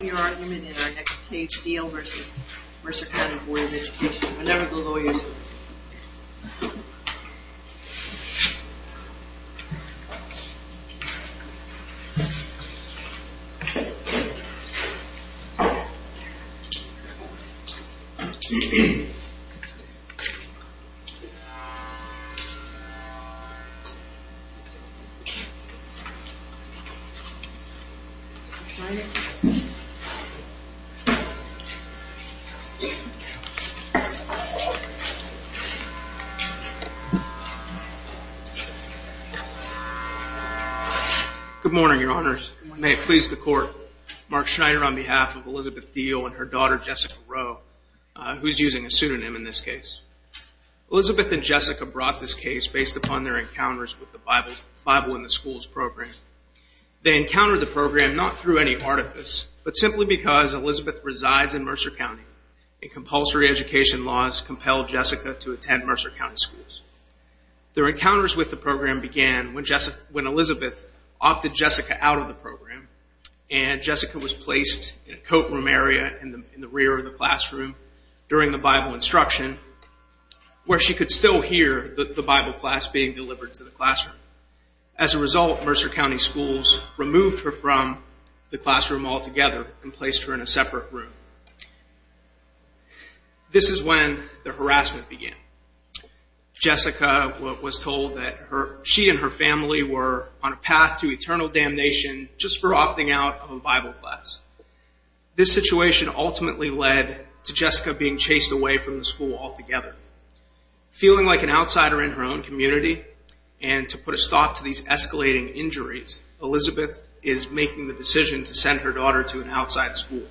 Your argument in our next case, Deal v. Mercer County Board of Education. Whenever the lawyers. Good morning, your honors. May it please the court. Mark Schneider on behalf of Elizabeth Deal and her daughter, Jessica Rowe, who's using a pseudonym in this case. Elizabeth and Jessica brought this case based upon their encounters with the Bible in the Schools program. They encountered the program not through any artifice, but simply because Elizabeth resides in Mercer County, and compulsory education laws compel Jessica to attend Mercer County schools. Their encounters with the program began when Elizabeth opted Jessica out of the program, and Jessica was placed in a coat room area in the rear of the classroom during the Bible instruction, where she could still hear the Bible class being delivered to the removed her from the classroom altogether and placed her in a separate room. This is when the harassment began. Jessica was told that she and her family were on a path to eternal damnation just for opting out of a Bible class. This situation ultimately led to Jessica being chased away from the school altogether. Feeling like an outsider in her own community, and to put a stop to these escalating injuries, Elizabeth is making the decision to send her daughter to an outside school.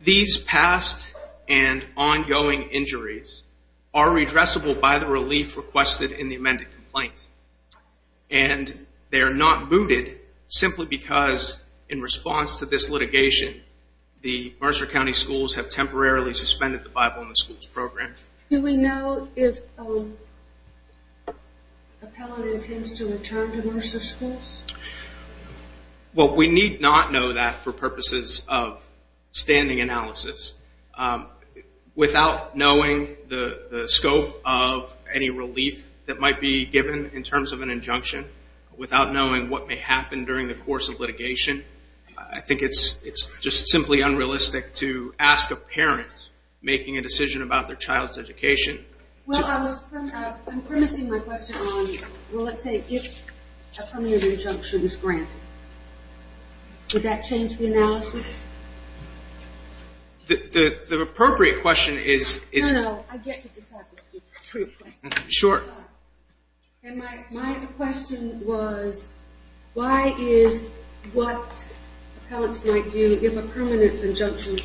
These past and ongoing injuries are redressable by the relief requested in the amended complaint, and they are not mooted simply because in response to this litigation, the Mercer County schools have temporarily suspended the Bible in the school's program. Do we know if an appellant intends to return to Mercer schools? Well, we need not know that for purposes of standing analysis. Without knowing the scope of any relief that might be given in terms of an injunction, without knowing what may happen during the course of litigation, I think it's just simply unrealistic to ask a parent making a decision about their child's education. I'm promising my question on, let's say, if a permanent injunction is granted. Would that change the analysis? The appropriate question is... No, no, I get to decide. My question was, why is what appellants might do if a permanent injunction is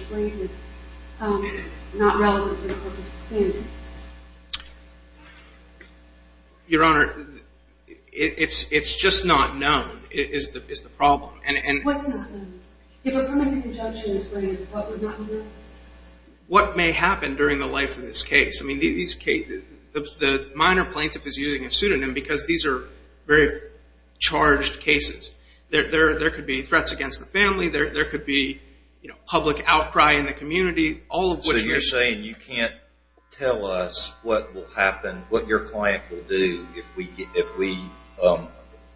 granted, not relevant to the purpose of standing? Your Honor, it's just not known, is the problem. What's not known? If a permanent injunction is granted, what would not be known? What may happen during the life of this case? The minor plaintiff is using a pseudonym because these are very charged cases. There could be threats against the family, there could be public outcry in the community, all of which... So you're saying you can't tell us what will happen, what your client will do if we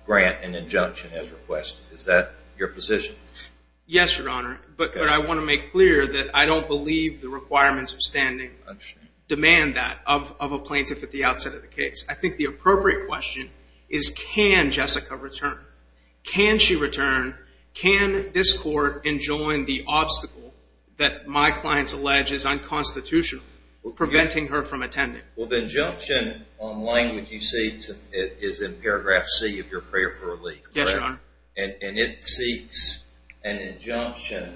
grant an injunction as requested. Is that your position? Yes, Your Honor, but I want to make clear that I don't believe the requirements of standing demand that of a plaintiff at the outset of the case. I think the appropriate question is, can Jessica return? Can she return? Can this court enjoin the obstacle that my client's alleged is unconstitutional, preventing her from attending? Well, the injunction on language you see is in paragraph C of your prayer for relief, correct? Yes, Your Honor. And it seeks an injunction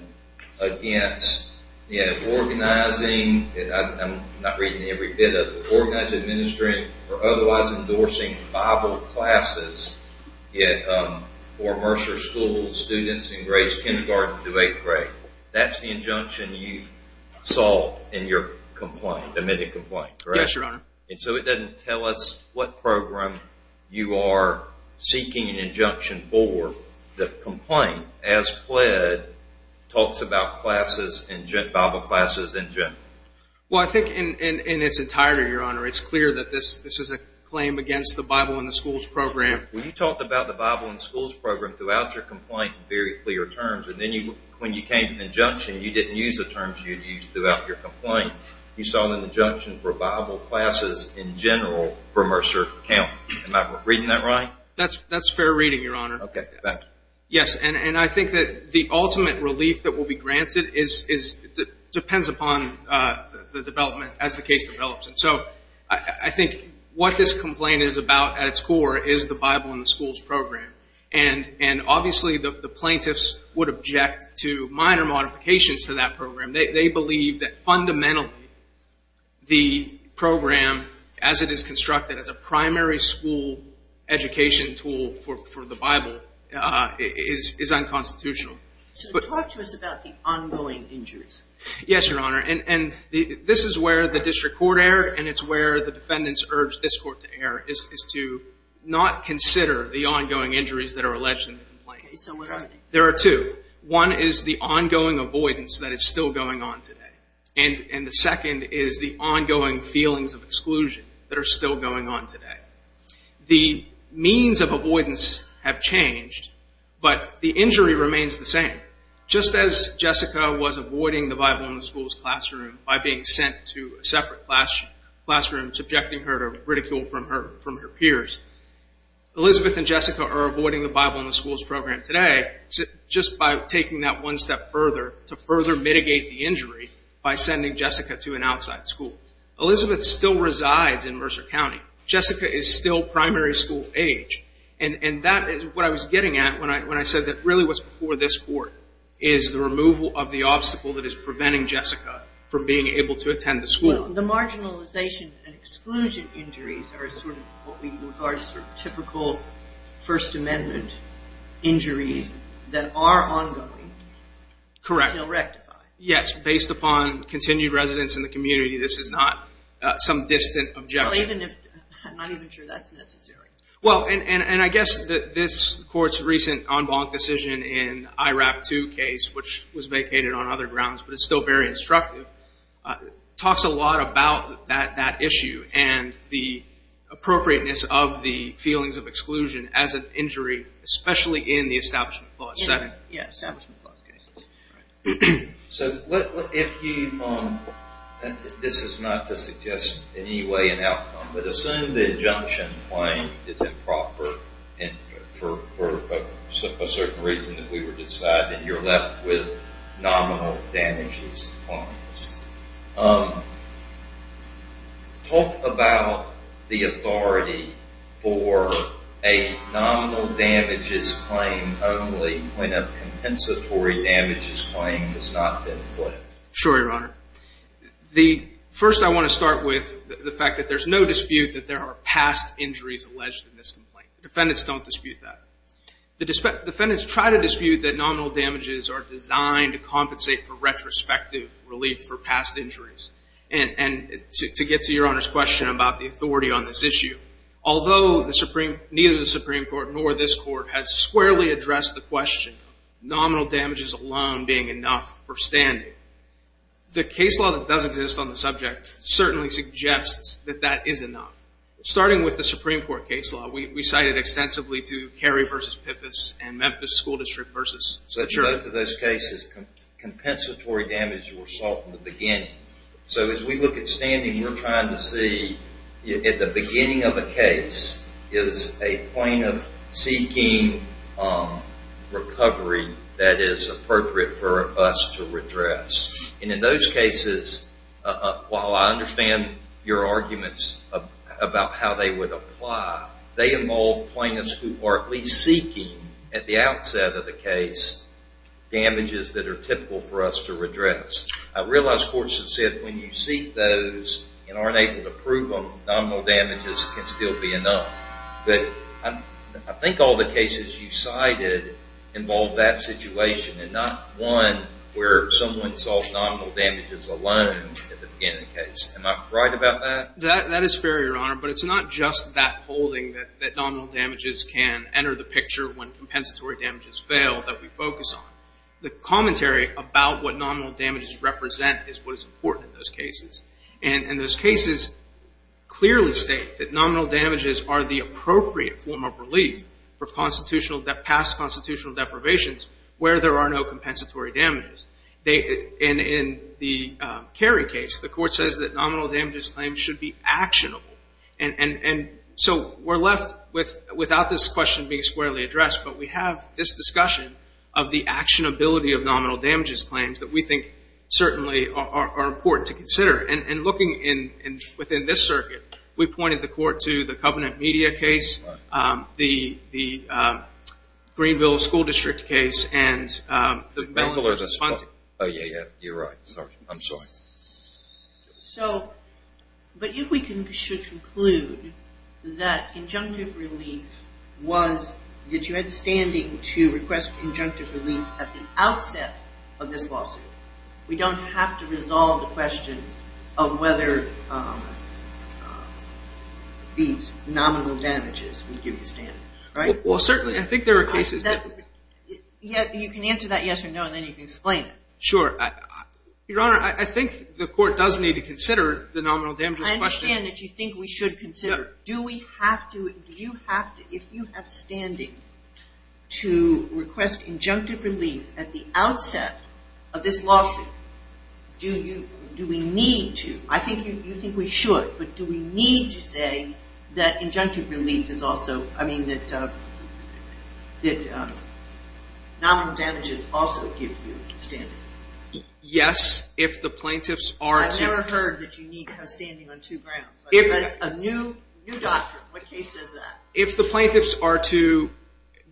against, yeah, organizing, I'm not reading every bit of it, organizing, administering or otherwise endorsing Bible classes for Mercer School students in grades kindergarten through eighth grade. That's the injunction you've solved in your complaint, admitted complaint, correct? Yes, Your Honor. And so it doesn't tell us what program you are seeking an injunction for. The complaint, as pled, talks about Bible classes in general. Well, I think in its entirety, it's clear that this is a claim against the Bible in the schools program. We talked about the Bible in schools program throughout your complaint in very clear terms, and then when you came to an injunction, you didn't use the terms you'd used throughout your complaint. You saw an injunction for Bible classes in general for Mercer County. Am I reading that right? That's fair reading, Your Honor. Okay, thank you. Yes, and I think that the ultimate relief that will be granted depends upon the development as the case develops. So I think what this complaint is about at its core is the Bible in the schools program, and obviously the plaintiffs would object to minor modifications to that program. They believe that fundamentally the program as it is constructed as a primary school education tool for the Bible is unconstitutional. So talk to us about the ongoing injuries. Yes, Your Honor, and this is the district court error, and it's where the defendants urge this court to err, is to not consider the ongoing injuries that are alleged in the complaint. There are two. One is the ongoing avoidance that is still going on today, and the second is the ongoing feelings of exclusion that are still going on today. The means of avoidance have changed, but the injury remains the same. Just as Jessica was avoiding the Bible in the schools classroom by being sent to a separate classroom, subjecting her to ridicule from her peers, Elizabeth and Jessica are avoiding the Bible in the schools program today just by taking that one step further to further mitigate the injury by sending Jessica to an outside school. Elizabeth still resides in Mercer County. Jessica is still primary school age, and that is what I was getting at when I said that really what's for this court is the removal of the obstacle that is preventing Jessica from being able to attend the school. The marginalization and exclusion injuries are sort of what we regard as sort of typical First Amendment injuries that are ongoing. Correct. Correct. Yes, based upon continued residence in the community, this is not some distant objection. I'm not even sure that's necessary. Well, and I guess that this court's recent en banc decision in the IRAP 2 case, which was vacated on other grounds but is still very instructive, talks a lot about that issue and the appropriateness of the feelings of exclusion as an injury, especially in the establishment clause setting. Yes, establishment clause cases. So if you, this is not to suggest any way an outcome, but assume the injunction claim is improper and for a certain reason that we were deciding you're left with nominal damages claims. Talk about the authority for a nominal damages claim only when a compensatory damages claim has not been put. Sure, Your Honor. First, I want to start with the fact that there's no dispute that there are past injuries alleged in this complaint. Defendants don't dispute that. The defendants try to dispute that nominal damages are designed to compensate for retrospective relief for past injuries. And to get to Your Honor's question about the authority on this issue, although neither the Supreme Court nor this court has squarely addressed the question of nominal damages alone being enough for standing, the case law that does exist on the subject certainly suggests that that is enough. Starting with the Supreme Court case law, we cited extensively to Cary v. Piffus and Memphis School District v. St. George. In both of those cases, compensatory damages were sought in the beginning. So as we look at standing, we're trying to see at the beginning of a case is a point of seeking recovery that is appropriate for us to redress. And in those cases, while I understand your arguments about how they would apply, they involve plaintiffs who are at least seeking at the outset of the case damages that are typical for us to redress. I realize courts have said when you seek those and aren't able to prove them, nominal damages can still be enough. But I think all the cases you cited involved that situation and not one where someone sought nominal damages alone at the beginning of the case. Am I right about that? That is fair, Your Honor. But it's not just that holding that nominal damages can enter the picture when compensatory damages fail that we focus on. The commentary about what nominal damages represent is what is important in those cases. And those cases clearly state that nominal damages are the appropriate form of relief for past constitutional deprivations where there are no compensatory damages. And in the Cary case, the court says that nominal damages claims should be actionable. And so we're left without this question being squarely addressed, but we have this discussion of the actionability of nominal damages claims that we think certainly are important to consider. And looking within this circuit, we pointed the court to the Covenant Media case, the Greenville School District case, and the Mellon versus Fonte. Oh, yeah, yeah, you're right. Sorry. I'm sorry. So, but if we should conclude that injunctive relief was that you had standing to request injunctive relief at the outset of this lawsuit, we don't have to resolve the question of whether these nominal damages would give you standing, right? Well, certainly. I think there are cases that... You can answer that yes or no, and then you can explain it. Sure. Your Honor, I think the court does need to consider the nominal damages question. I understand that you think we should consider. Do we have to, do you have to, if you have standing to request injunctive relief at the outset of this lawsuit, do we need to? I think you think we should, but do we need to say that injunctive relief is also, I mean, that nominal damages also give you standing? Yes, if the plaintiffs are to... I've never heard that you need to have standing on two grounds, but that's a new doctrine. What case says that? If the plaintiffs are to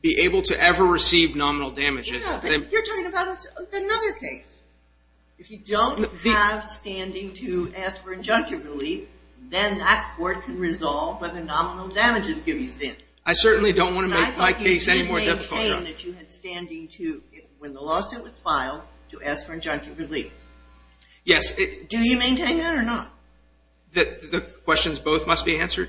be able to ever receive nominal damages... Yeah, but you're talking about another case. If you don't have standing to ask for injunctive relief, then that court can resolve whether nominal damages give you standing. I certainly don't want to make my case any more difficult, Your Honor. I think you maintain that you had standing to, when the lawsuit was filed, to ask for injunctive relief. Yes. Do you maintain that or not? The questions both must be answered?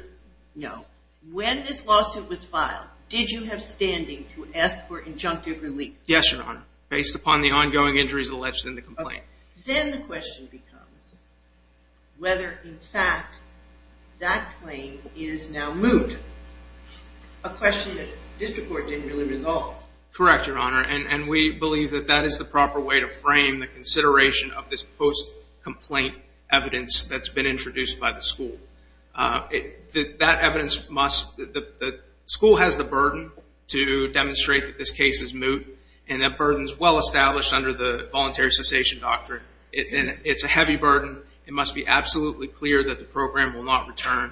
No. When this lawsuit was filed, did you have standing to ask for injunctive relief? Yes, Your Honor, based upon the ongoing injuries alleged in the complaint. Then the question becomes whether, in fact, that claim is now moot, a question that should be answered. Correct, Your Honor, and we believe that that is the proper way to frame the consideration of this post-complaint evidence that's been introduced by the school. That evidence must... The school has the burden to demonstrate that this case is moot, and that burden is well established under the voluntary cessation doctrine. It's a heavy burden. It must be absolutely clear that the program will not return.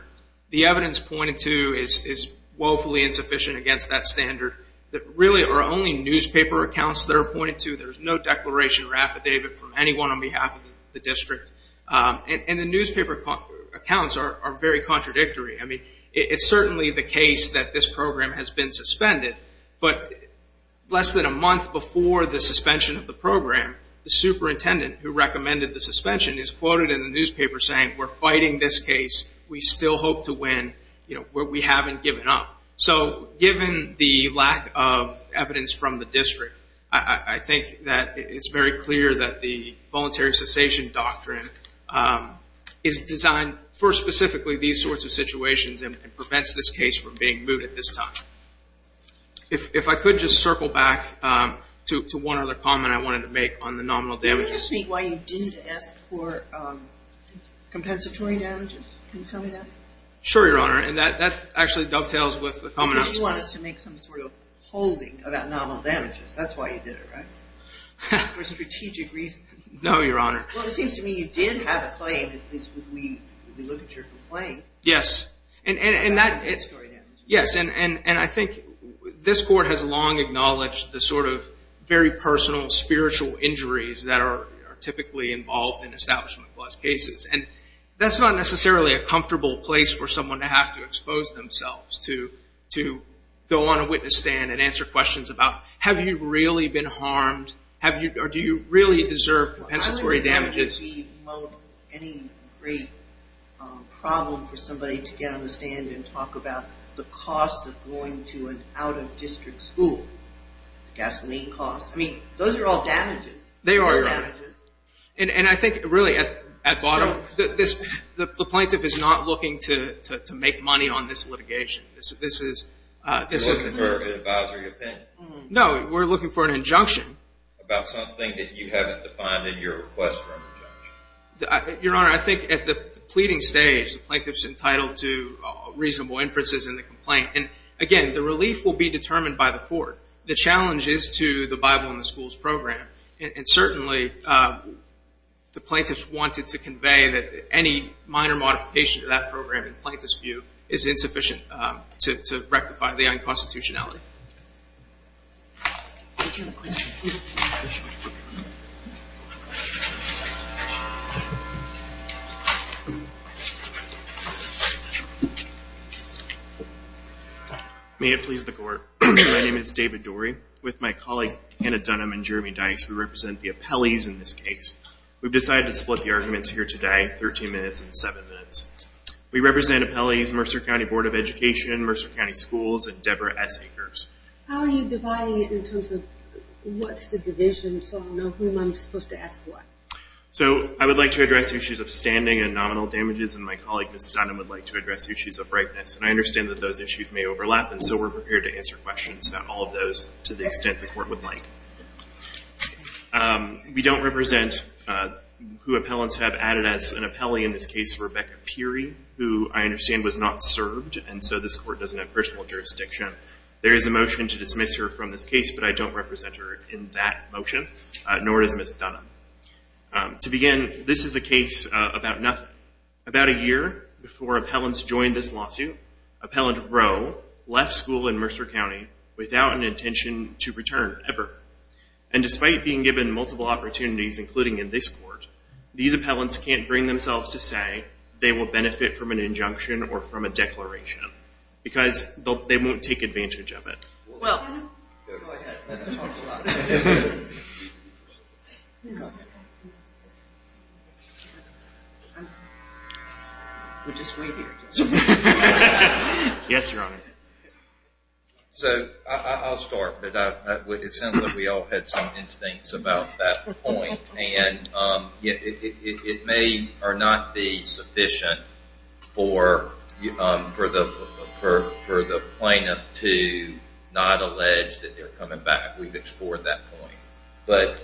The evidence pointed to is woefully insufficient against that standard that really are only newspaper accounts that are pointed to. There's no declaration or affidavit from anyone on behalf of the district, and the newspaper accounts are very contradictory. I mean, it's certainly the case that this program has been suspended, but less than a month before the suspension of the program, the superintendent who recommended the suspension is quoted in the newspaper saying, we're fighting this case. We still hope to win, but we haven't given up. So given the lack of evidence from the district, I think that it's very clear that the voluntary cessation doctrine is designed for specifically these sorts of situations and prevents this case from being moot at this time. If I could just circle back to one other comment I wanted to make on the nominal damages. Can you just speak why you didn't ask for compensatory damages? Can you tell me that? Sure, Your Honor, and that actually dovetails with the commonality. Because you want us to make some sort of holding about nominal damages. That's why you did it, right? For strategic reasons. No, Your Honor. Well, it seems to me you did have a claim, at least when we look at your complaint. Yes, and I think this court has long acknowledged the sort of very personal, spiritual injuries that are typically involved in Establishment Clause cases. And that's not necessarily a comfortable place for someone to have to expose themselves to go on a witness stand and answer questions about, have you really been harmed? Do you really deserve compensatory damages? I don't think there would be any great problem for somebody to get on the stand and talk about the cost of going to an out-of-district school. Gasoline costs. I mean, those are all damages. They are. They're damages. And I think, really, at bottom, the plaintiff is not looking to make money on this litigation. It wasn't part of an advisory opinion. No, we're looking for an injunction. About something that you haven't defined in your request for an injunction. Your Honor, I think at the pleading stage, the plaintiff's entitled to reasonable inferences in the complaint. And again, the relief will be determined by the court. The challenge is to the Bible in the Schools Program. And certainly, the plaintiff's wanted to convey that any minor modification to that program, in the plaintiff's view, is insufficient to rectify the unconstitutionality. May it please the Court. My name is David Dorey. With my colleague Anna Dunham and Jeremy Dice, we represent the appellees in this case. We've decided to split the arguments here today, 13 minutes and 7 minutes. We represent appellees, Mercer County Board of Education, Mercer County Schools, and Deborah Essigers. How are you dividing it in terms of what's the division? So I'll know whom I'm supposed to ask what. So, I would like to address issues of standing and nominal damages. And my colleague, Ms. Dunham, would like to address issues of brightness. And I understand that those issues may overlap. And so, we're prepared to answer questions about all of those, to the extent the Court would like. We don't represent who appellants have added as an appellee in this case, Rebecca Peery, who I understand was not served. And so, this Court doesn't have personal jurisdiction. There is a motion to dismiss her from this case. But I don't represent her in that motion, nor does Ms. Dunham. To begin, this is a case about nothing. Before appellants joined this lawsuit, Appellant Rowe left school in Mercer County without an intention to return, ever. And despite being given multiple opportunities, including in this Court, these appellants can't bring themselves to say they will benefit from an injunction or from a declaration. Because they won't take advantage of it. We'll just wait here. Yes, Your Honor. So, I'll start. But it sounds like we all had some instincts about that point. And it may or not be sufficient for the plaintiff to not allege that they're coming back. We've explored that point. But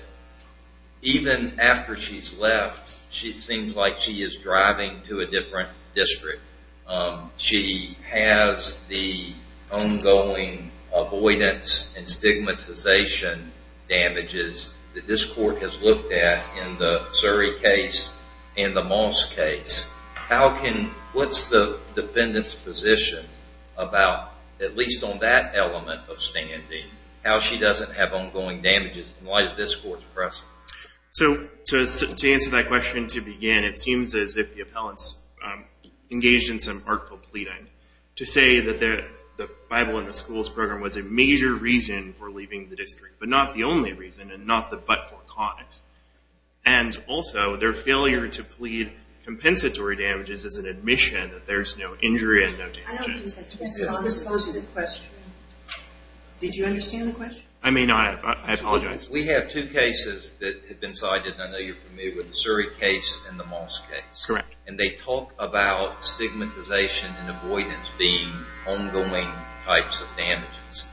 even after she's left, she seems like she is driving to a different district. She has the ongoing avoidance and stigmatization damages that this Court has looked at in the Surrey case and the Moss case. What's the defendant's position about, at least on that element of standing, how she doesn't have ongoing damages in light of this Court's press? So, to answer that question, to begin, it seems as if the appellants engaged in some artful pleading to say that the Bible in the Schools Program was a major reason for leaving the district. But not the only reason, and not the but-for cause. And also, their failure to plead compensatory damages is an admission that there's no injury and no damages. I don't think that's a consensual question. Did you understand the question? I may not have. I apologize. We have two cases that have been cited, and I know you're familiar with the Surrey case and the Moss case. Correct. And they talk about stigmatization and avoidance being ongoing types of damages.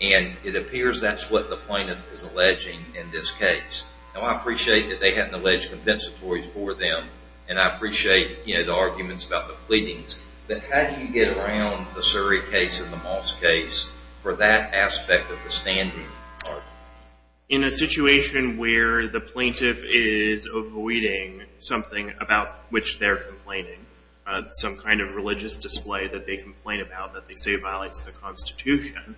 And it appears that's what the plaintiff is alleging in this case. Now, I appreciate that they haven't alleged compensatories for them. And I appreciate the arguments about the pleadings. But how do you get around the Surrey case and the Moss case for that aspect of the standing argument? In a situation where the plaintiff is avoiding something about which they're complaining, some kind of religious display that they complain about that they say violates the Constitution,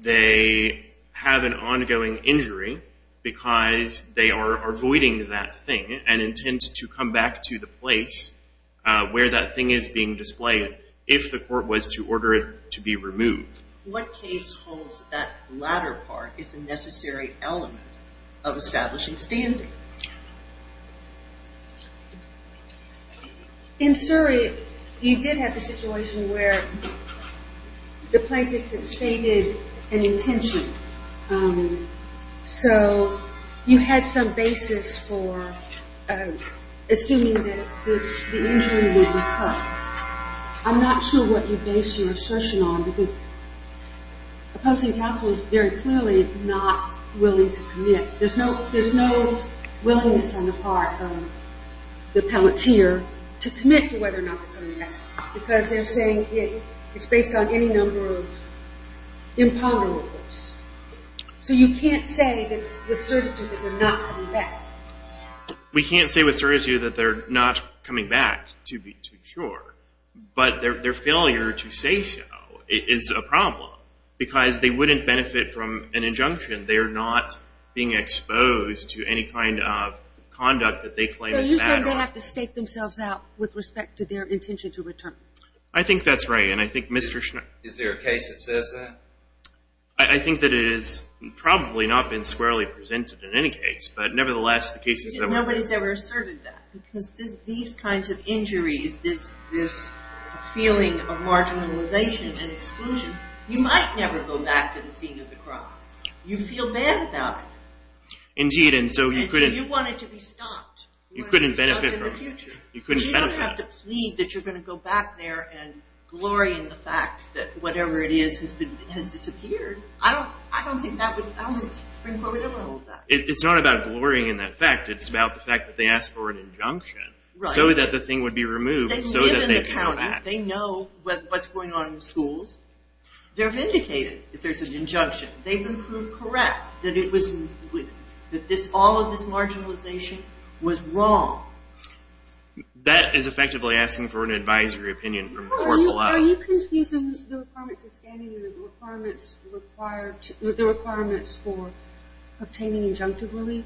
they have an ongoing injury because they are avoiding that thing and intend to come back to the place where that thing is being displayed if the court was to order it to be removed. What case holds that latter part is a necessary element of establishing standing? In Surrey, you did have a situation where the plaintiff had stated an intention. And so you had some basis for assuming that the injury would be cut. I'm not sure what you base your assertion on because opposing counsel is very clearly not willing to commit. There's no willingness on the part of the appellate here to commit to whether or not to come back because they're saying it's based on any number of imponderables. So you can't say with certitude that they're not coming back? We can't say with certitude that they're not coming back, to be too sure. But their failure to say so is a problem because they wouldn't benefit from an injunction. They're not being exposed to any kind of conduct that they claim is bad. So you're saying they have to state themselves out with respect to their intention to return? I think that's right. And I think Mr. Schneier... Is there a case that says that? I think that it is probably not been squarely presented in any case. But nevertheless, the case is... Nobody's ever asserted that because these kinds of injuries, this feeling of marginalization and exclusion, you might never go back to the scene of the crime. You feel bad about it. Indeed. And so you couldn't... You wanted to be stopped. You couldn't benefit from it. You couldn't benefit. You don't have to plead that you're going to go back there and glory in the fact that whatever it is has disappeared. I don't think that would... I don't think the Supreme Court would ever hold that. It's not about glorying in that fact. It's about the fact that they asked for an injunction so that the thing would be removed. They live in the county. They know what's going on in the schools. They're vindicated if there's an injunction. They've been proved correct that it was... That all of this marginalization was wrong. That is effectively asking for an advisory opinion from the court below. Are you confusing the requirements of standing with the requirements for obtaining injunctive relief?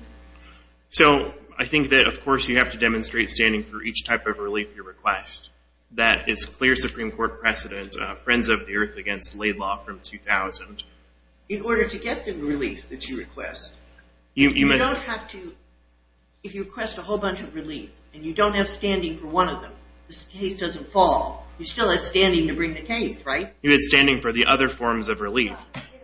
So I think that, of course, you have to demonstrate standing for each type of relief you request. That is clear Supreme Court precedent. Friends of the Earth against Laidlaw from 2000. In order to get the relief that you request, you don't have to... And you don't have standing for one of them. This case doesn't fall. You still have standing to bring the case, right? You have standing for the other forms of relief.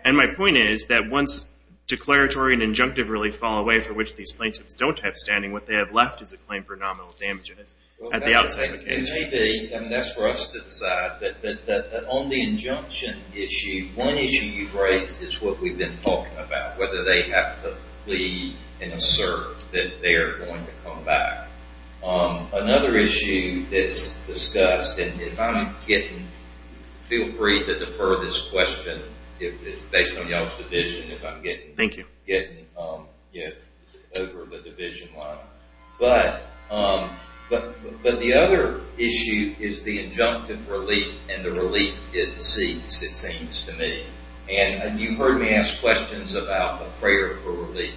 And my point is that once declaratory and injunctive relief fall away for which these plaintiffs don't have standing, what they have left is a claim for nominal damages at the outside of the case. It may be, and that's for us to decide, but on the injunction issue, one issue you've raised is what we've been talking about. Whether they have to plead and assert that they're going to come back. Another issue that's discussed, and if I'm getting... Feel free to defer this question based on y'all's division if I'm getting over the division line. But the other issue is the injunctive relief and the relief it seeks, it seems to me. And you've heard me ask questions about the prayer for relief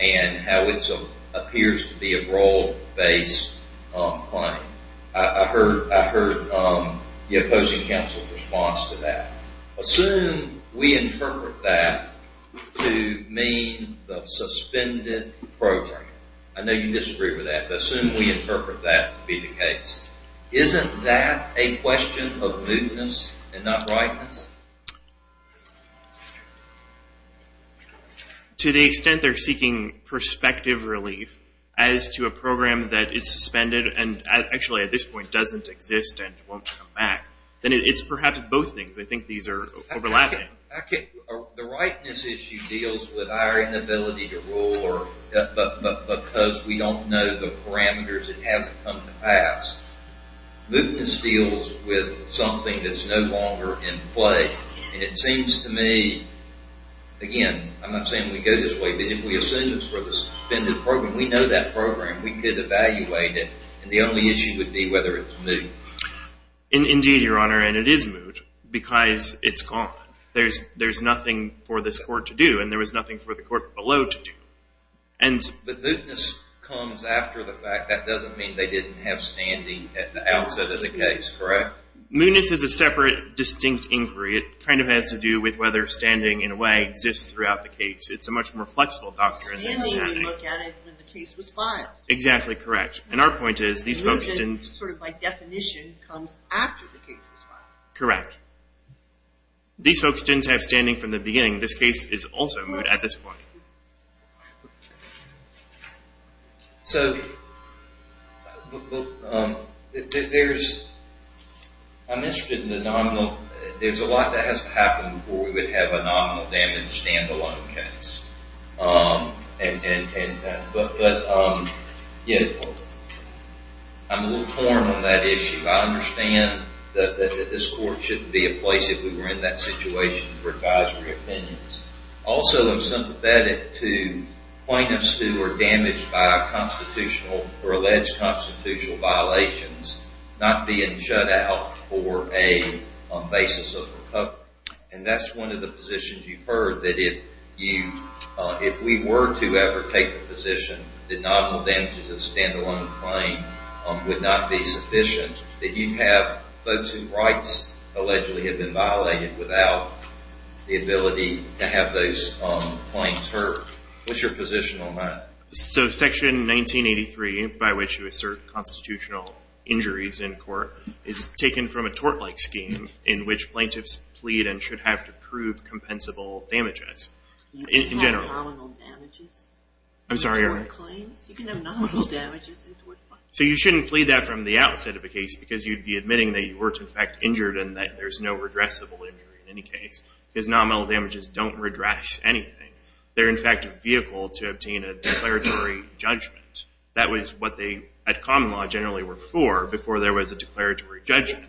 and how it appears to be a role-based claim. I heard the opposing counsel's response to that. Assume we interpret that to mean the suspended program. I know you disagree with that, but assume we interpret that to be the case. Isn't that a question of mootness and not rightness? To the extent they're seeking perspective relief as to a program that is suspended and actually at this point doesn't exist and won't come back, then it's perhaps both things. I think these are overlapping. The rightness issue deals with our inability to rule because we don't know the parameters. It hasn't come to pass. Mootness deals with something that's no longer in play and it seems to me, again, I'm not saying we go this way, but if we assume it's for the suspended program, we know that program, we could evaluate it and the only issue would be whether it's moot. Indeed, Your Honor, and it is moot because it's gone. There's nothing for this court to do and there was nothing for the court below to do. But mootness comes after the fact. That doesn't mean they didn't have standing at the outset of the case, correct? Mootness is a separate, distinct inquiry. It has to do with whether standing, in a way, exists throughout the case. It's a much more flexible doctrine than standing. Standing, we look at it when the case was filed. Exactly correct. And our point is these folks didn't... Mootness, sort of by definition, comes after the case is filed. Correct. These folks didn't have standing from the beginning. This case is also moot at this point. So, I'm interested in the nominal. There's a lot that has to happen before we would have a nominal damage standalone case. But, yeah, I'm a little torn on that issue. I understand that this court shouldn't be a place if we were in that situation for advisory opinions. Also, I'm sympathetic to plaintiffs who are damaged by constitutional or alleged constitutional violations not being shut out for a basis of recovery. And that's one of the positions you've heard, that if we were to ever take the position that nominal damages of a standalone claim would not be sufficient, that you'd have folks whose rights allegedly have been violated without the ability to have those claims heard. What's your position on that? So, Section 1983, by which you assert constitutional injuries in court, is taken from a tort-like scheme in which plaintiffs plead and should have to prove compensable damages. You can have nominal damages. I'm sorry, Eric? You can have nominal damages in tort claims. So, you shouldn't plead that from the outset of a case because you'd be admitting that you were, in fact, injured and that there's no redressable injury in any case because nominal damages don't redress anything. They're, in fact, a vehicle to obtain a declaratory judgment. That was what they, at common law, generally were for before there was a declaratory judgment.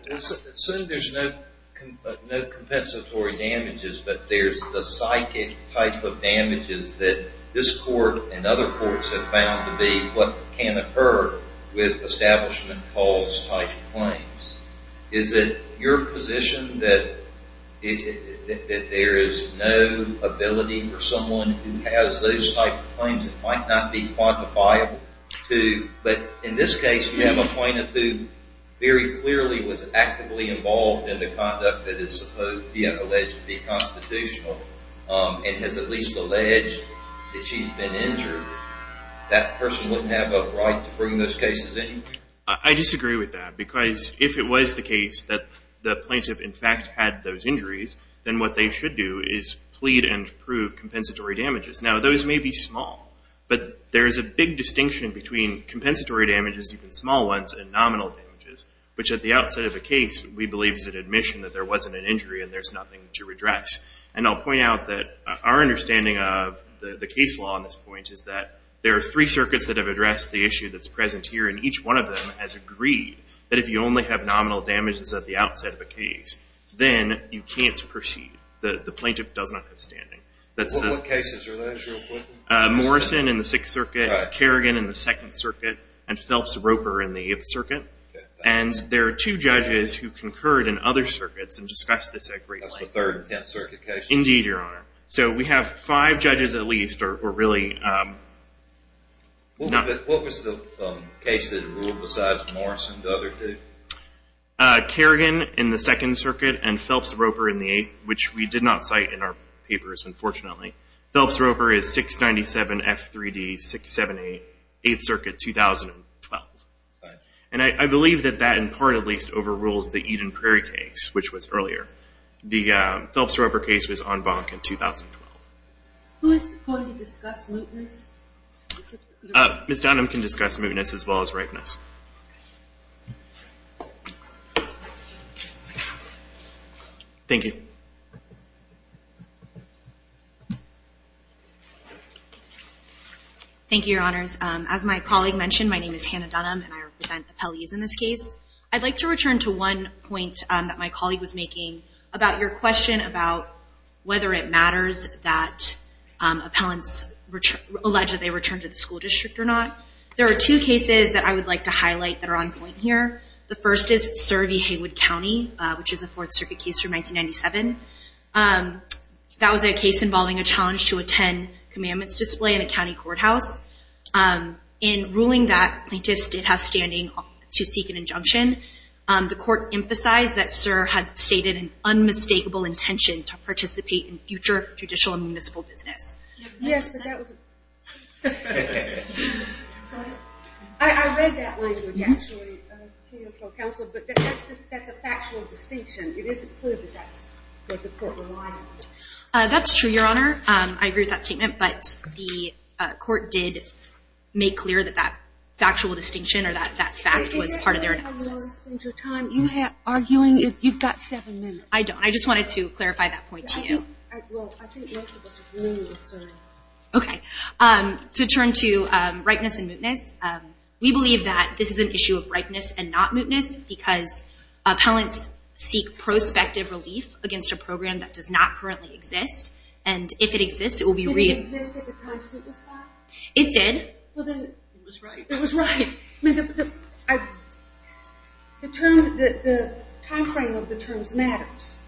So, there's no compensatory damages, but there's the psychic type of damages that this court and other courts have found to be what can occur with establishment cause-type claims. Is it your position that there is no ability for someone who has those type of claims and might not be quantifiable to... But in this case, you have a plaintiff who very clearly was actively involved in the conduct that is supposed to be alleged to be constitutional and has at least alleged that she's been injured. That person wouldn't have a right to bring those cases in? I disagree with that because if it was the case that the plaintiff, in fact, had those injuries, then what they should do is plead and prove compensatory damages. Now, those may be small, but there is a big distinction between compensatory damages, even small ones, and nominal damages, which at the outset of a case, we believe is an admission that there wasn't an injury and there's nothing to redress. And I'll point out that our understanding of the case law on this point is that there are three circuits that have addressed the issue that's present here, and each one of them has agreed that if you only have nominal damages at the outset of a case, then you can't proceed. The plaintiff does not have standing. What cases are those, real quickly? Morrison in the Sixth Circuit, Kerrigan in the Second Circuit, and Phelps-Roper in the Eighth Circuit. And there are two judges who concurred in other circuits and discussed this at great length. That's the Third and Tenth Circuit cases? Indeed, Your Honor. So we have five judges at least who are really... What was the case that ruled besides Morrison, the other two? Kerrigan in the Second Circuit and Phelps-Roper in the Eighth, which we did not cite in our papers, unfortunately. Phelps-Roper is 697 F3D 678, Eighth Circuit, 2012. And I believe that that, in part at least, overrules the Eden Prairie case, which was earlier. The Phelps-Roper case was en banc in 2012. Who is going to discuss mootness? Ms. Dunham can discuss mootness as well as ripeness. Thank you. Thank you, Your Honors. As my colleague mentioned, my name is Hannah Dunham, and I represent the appellees in this case. I'd like to return to one point that my colleague was making about your question about whether it matters that appellants allege that they return to the school district or not. There are two cases that I would like to address. I'd like to highlight that are on point here. The first is Sir v. Haywood County, which is a Fourth Circuit case from 1997. That was a case involving a challenge to attend commandments display in a county courthouse. In ruling that plaintiffs did have standing to seek an injunction, the court emphasized that Sir had stated an unmistakable intention to participate in future judicial and municipal business. Yes, but that was it. I read that language, actually, to your counsel, but that's a factual distinction. It isn't clear that that's what the court relied on. That's true, Your Honor. I agree with that statement, but the court did make clear that that factual distinction or that fact was part of their analysis. You have a lot of time. You have arguing. You've got seven minutes. I don't. I just wanted to clarify that point to you. Well, I think most of us agree with Sir. OK. To turn to rightness and mootness, we believe that this is an issue of rightness and not mootness because appellants seek prospective relief against a program that does not currently exist. And if it exists, it will be re- Did it exist at the time suit was filed? It did. Well, then it was right. It was right. The time frame of the terms matters.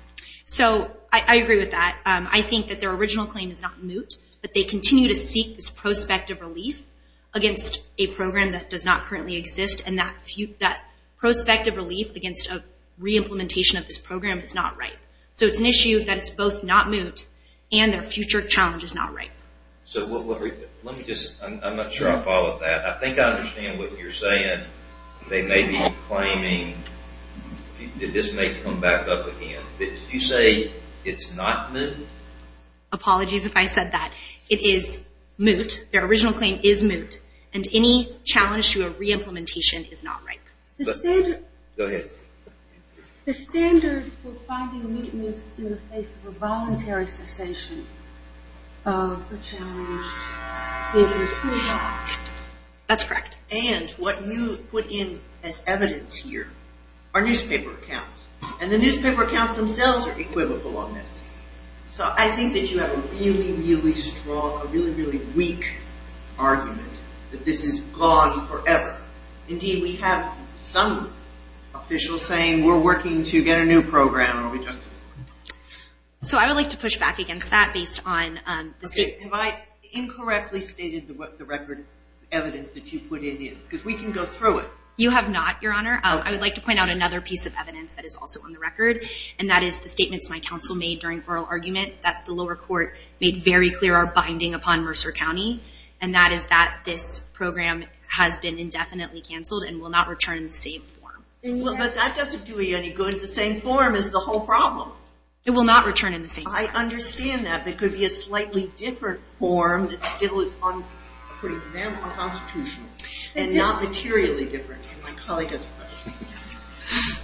So I agree with that. I think that their original claim is not moot, but they continue to seek this prospective relief against a program that does not currently exist. And that prospective relief against a re-implementation of this program is not right. So it's an issue that it's both not moot and their future challenge is not right. So let me just, I'm not sure I followed that. I think I understand what you're saying. They may be claiming, this may come back up again. You say it's not moot? Apologies if I said that. It is moot. Their original claim is moot. And any challenge to a re-implementation is not right. Go ahead. The standard for finding mootness in the face of a voluntary cessation of the challenge is moot. That's correct. And what you put in as evidence here are newspaper accounts. And the newspaper accounts themselves are equivocal on this. So I think that you have a really, really strong, a really, really weak argument that this is gone forever. Indeed, we have some officials saying we're working to get a new program. So I would like to push back against that based on the state. Have I incorrectly stated what the record evidence that you put in is? Because we can go through it. You have not, Your Honor. I would like to point out another piece of evidence that is also on the record. And that is the statements my counsel made during oral argument that the lower court made very clear our binding upon Mercer County. And that is that this program has been indefinitely canceled and will not return in the same form. But that doesn't do you any good. The same form is the whole problem. It will not return in the same form. I understand that. There could be a slightly different form that still is putting them on constitutional and not materially different. My colleague has a question.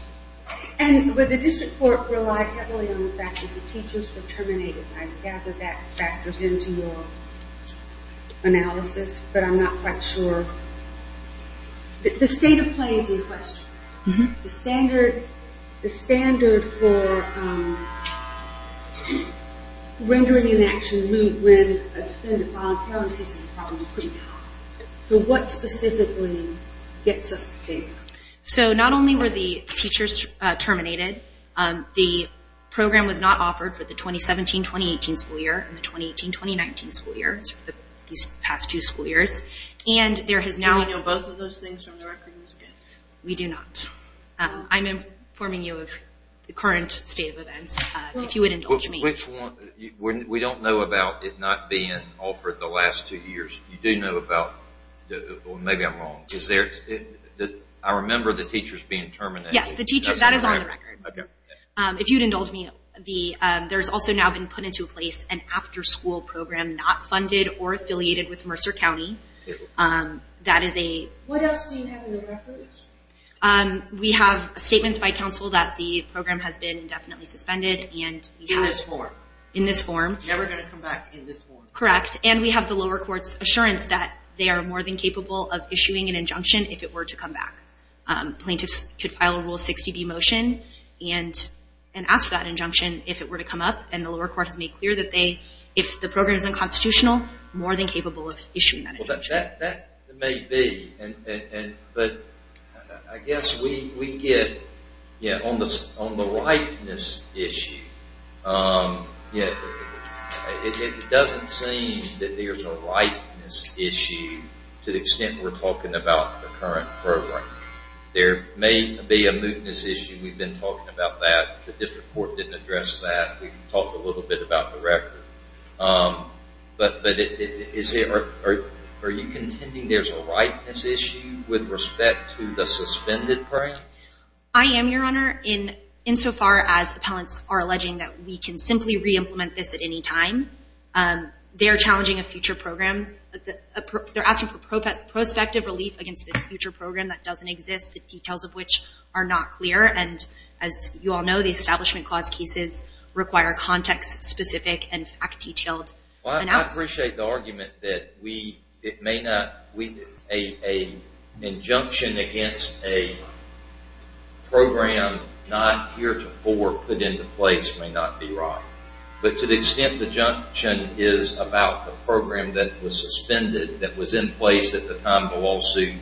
And would the district court rely heavily on the fact that the teachers were terminated? I gather that factors into your analysis. But I'm not quite sure. The state of play is in question. The standard for rendering an action when a defendant filed a felony is a problem. Do you know? So what specifically gets us to think? So not only were the teachers terminated, the program was not offered for the 2017-2018 school year and the 2018-2019 school year, these past two school years. And there has now- Do we know both of those things from the record? We do not. I'm informing you of the current state of events. If you would indulge me. Which one? We don't know about it not being offered the last two years. You do know about- Well, maybe I'm wrong. I remember the teachers being terminated. Yes, that is on the record. If you'd indulge me, there's also now been put into place an after-school program not funded or affiliated with Mercer County. That is a- What else do you have in the records? We have statements by counsel that the program has been indefinitely suspended and- In this form. In this form. Never going to come back in this form. Correct. And we have the lower court's assurance that they are more than capable of issuing an injunction if it were to come back. Plaintiffs could file a Rule 60B motion and ask for that injunction if it were to come up. And the lower court has made clear that they, if the program is unconstitutional, more than capable of issuing that injunction. That may be. But I guess we get, on the ripeness issue, you know, it doesn't seem that there's a ripeness issue to the extent we're talking about the current program. There may be a mootness issue. We've been talking about that. The district court didn't address that. We talked a little bit about the record. But is it, are you contending there's a ripeness issue with respect to the suspended program? I am, Your Honor. In so far as appellants are alleging that we can simply re-implement this at any time, they're challenging a future program. They're asking for prospective relief against this future program that doesn't exist, the details of which are not clear. And as you all know, the Establishment Clause cases require context-specific and fact-detailed analysis. Well, I appreciate the argument that we, it may not, we, an injunction against a program not heretofore put into place may not be right. But to the extent the injunction is about the program that was suspended, that was in place at the time the lawsuit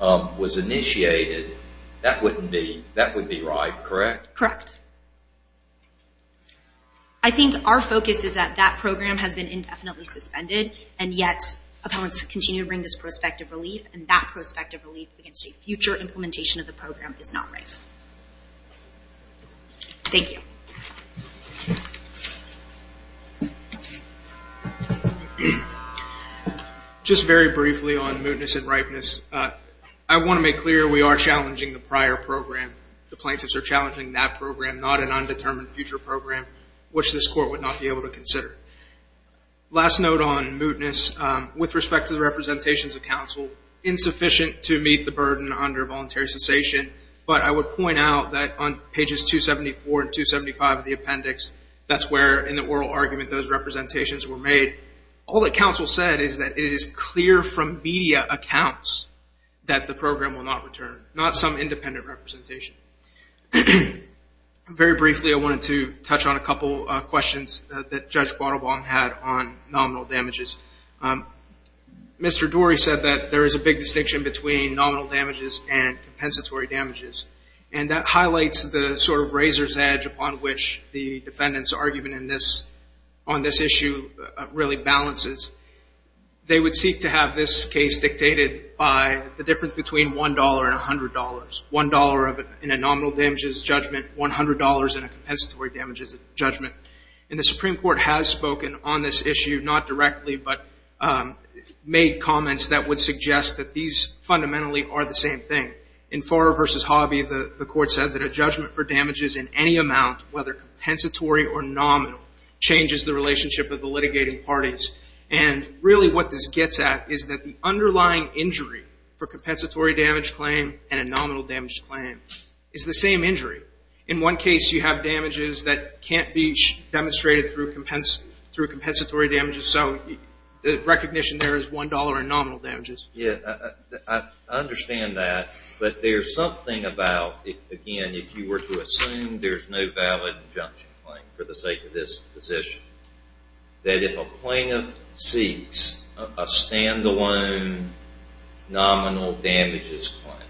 was initiated, that wouldn't be, that would be right, correct? Correct. I think our focus is that that program has been indefinitely suspended, and yet appellants continue to bring this prospective relief, and that prospective relief against a future implementation of the program is not right. Thank you. Just very briefly on mootness and ripeness. I want to make clear we are challenging the prior program. The plaintiffs are challenging that program, not an undetermined future program, which this court would not be able to consider. Last note on mootness, with respect to the representations of counsel, insufficient to meet the burden under voluntary cessation. But I would point out that on pages 274 and 275 of the appendix, that's where, in the oral argument, those representations were made. All that counsel said is that it is clear from media accounts that the program will not return, not some independent representation. Very briefly, I wanted to touch on a couple of questions that Judge Guadalbong had on nominal damages. Mr. Dorey said that there is a big distinction between nominal damages and compensatory damages. And that highlights the sort of razor's edge upon which the defendant's argument on this issue really balances. They would seek to have this case dictated by the difference between $1 and $100. $1 in a nominal damages judgment, $100 in a compensatory damages judgment. And the Supreme Court has spoken on this issue, not directly, but made comments that would suggest that these fundamentally are the same thing. In Farrer v. Harvey, the court said that a judgment for damages in any amount, whether compensatory or nominal, changes the relationship of the litigating parties. And really what this gets at is that the underlying injury for a compensatory damage claim and a nominal damage claim is the same injury. In one case, you have damages that can't be demonstrated through compensatory damages. So the recognition there is $1 in nominal damages. Yeah, I understand that. But there's something about, again, if you were to assume there's no valid injunction claim for the sake of this position, that if a plaintiff seeks a standalone nominal damages claim,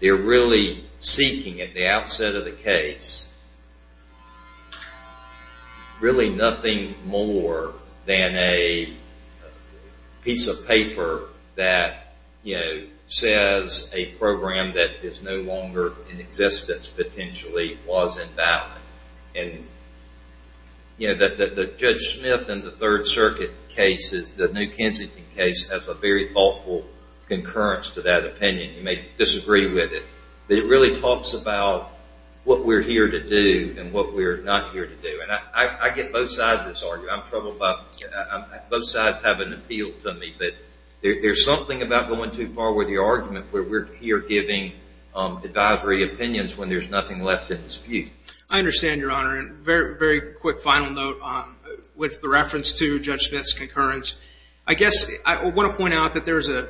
they're really seeking at the outset of the case really nothing more than a piece of paper that says a program that is no longer in existence potentially was in doubt. And the Judge Smith and the Third Circuit cases, the New Kensington case, has a very thoughtful concurrence to that opinion. You may disagree with it. It really talks about what we're here to do and what we're not here to do. And I get both sides of this argument. I'm troubled by both sides having appealed to me. But there's something about going too far with your argument where we're here giving advisory opinions when there's nothing left in dispute. I understand, Your Honor. And very, very quick final note with the reference to Judge Smith's concurrence. I guess I want to point out that there is a...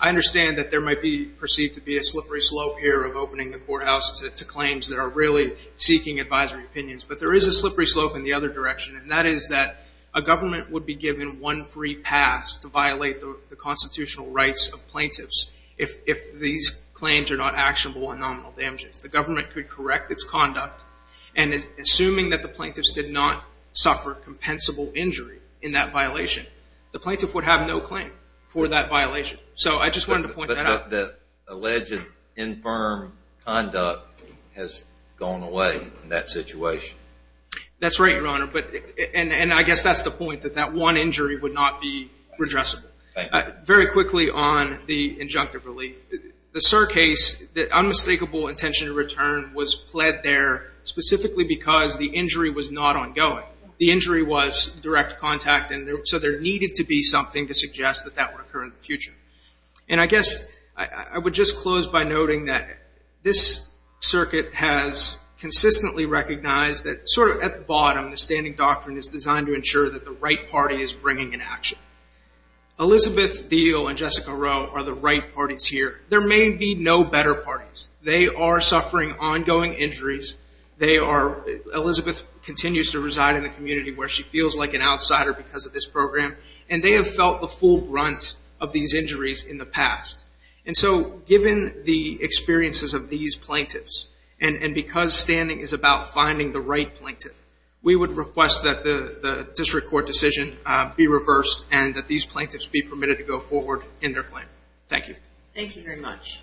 I understand that there might be perceived to be a slippery slope here of opening the courthouse to claims that are really seeking advisory opinions. But there is a slippery slope in the other direction. And that is that a government would be given one free pass to violate the constitutional rights of plaintiffs if these claims are not actionable on nominal damages. The government could correct its conduct. And assuming that the plaintiffs did not suffer compensable injury in that violation, the plaintiff would have no claim for that violation. So I just wanted to point that out. The alleged infirm conduct has gone away in that situation. That's right, Your Honor. But... And I guess that's the point, that that one injury would not be redressable. Thank you. Very quickly on the injunctive relief. The Sur case, the unmistakable intention to return was pled there specifically because the injury was not ongoing. The injury was direct contact. And so there needed to be something to suggest that that would occur in the future. And I guess I would just close by noting that this circuit has consistently recognized that sort of at the bottom, the standing doctrine is designed to ensure that the right party is bringing an action. Elizabeth Thiel and Jessica Rowe are the right parties here. There may be no better parties. They are suffering ongoing injuries. They are... Elizabeth continues to reside in the community where she feels like an outsider because of this program. And they have felt the full brunt of these injuries in the past. And so given the experiences of these plaintiffs, and because standing is about finding the right plaintiff, we would request that the district court decision be reversed and that these plaintiffs be permitted to go forward in their claim. Thank you. Thank you very much.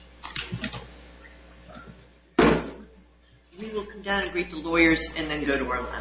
We will come down and greet the lawyers and then go to our last...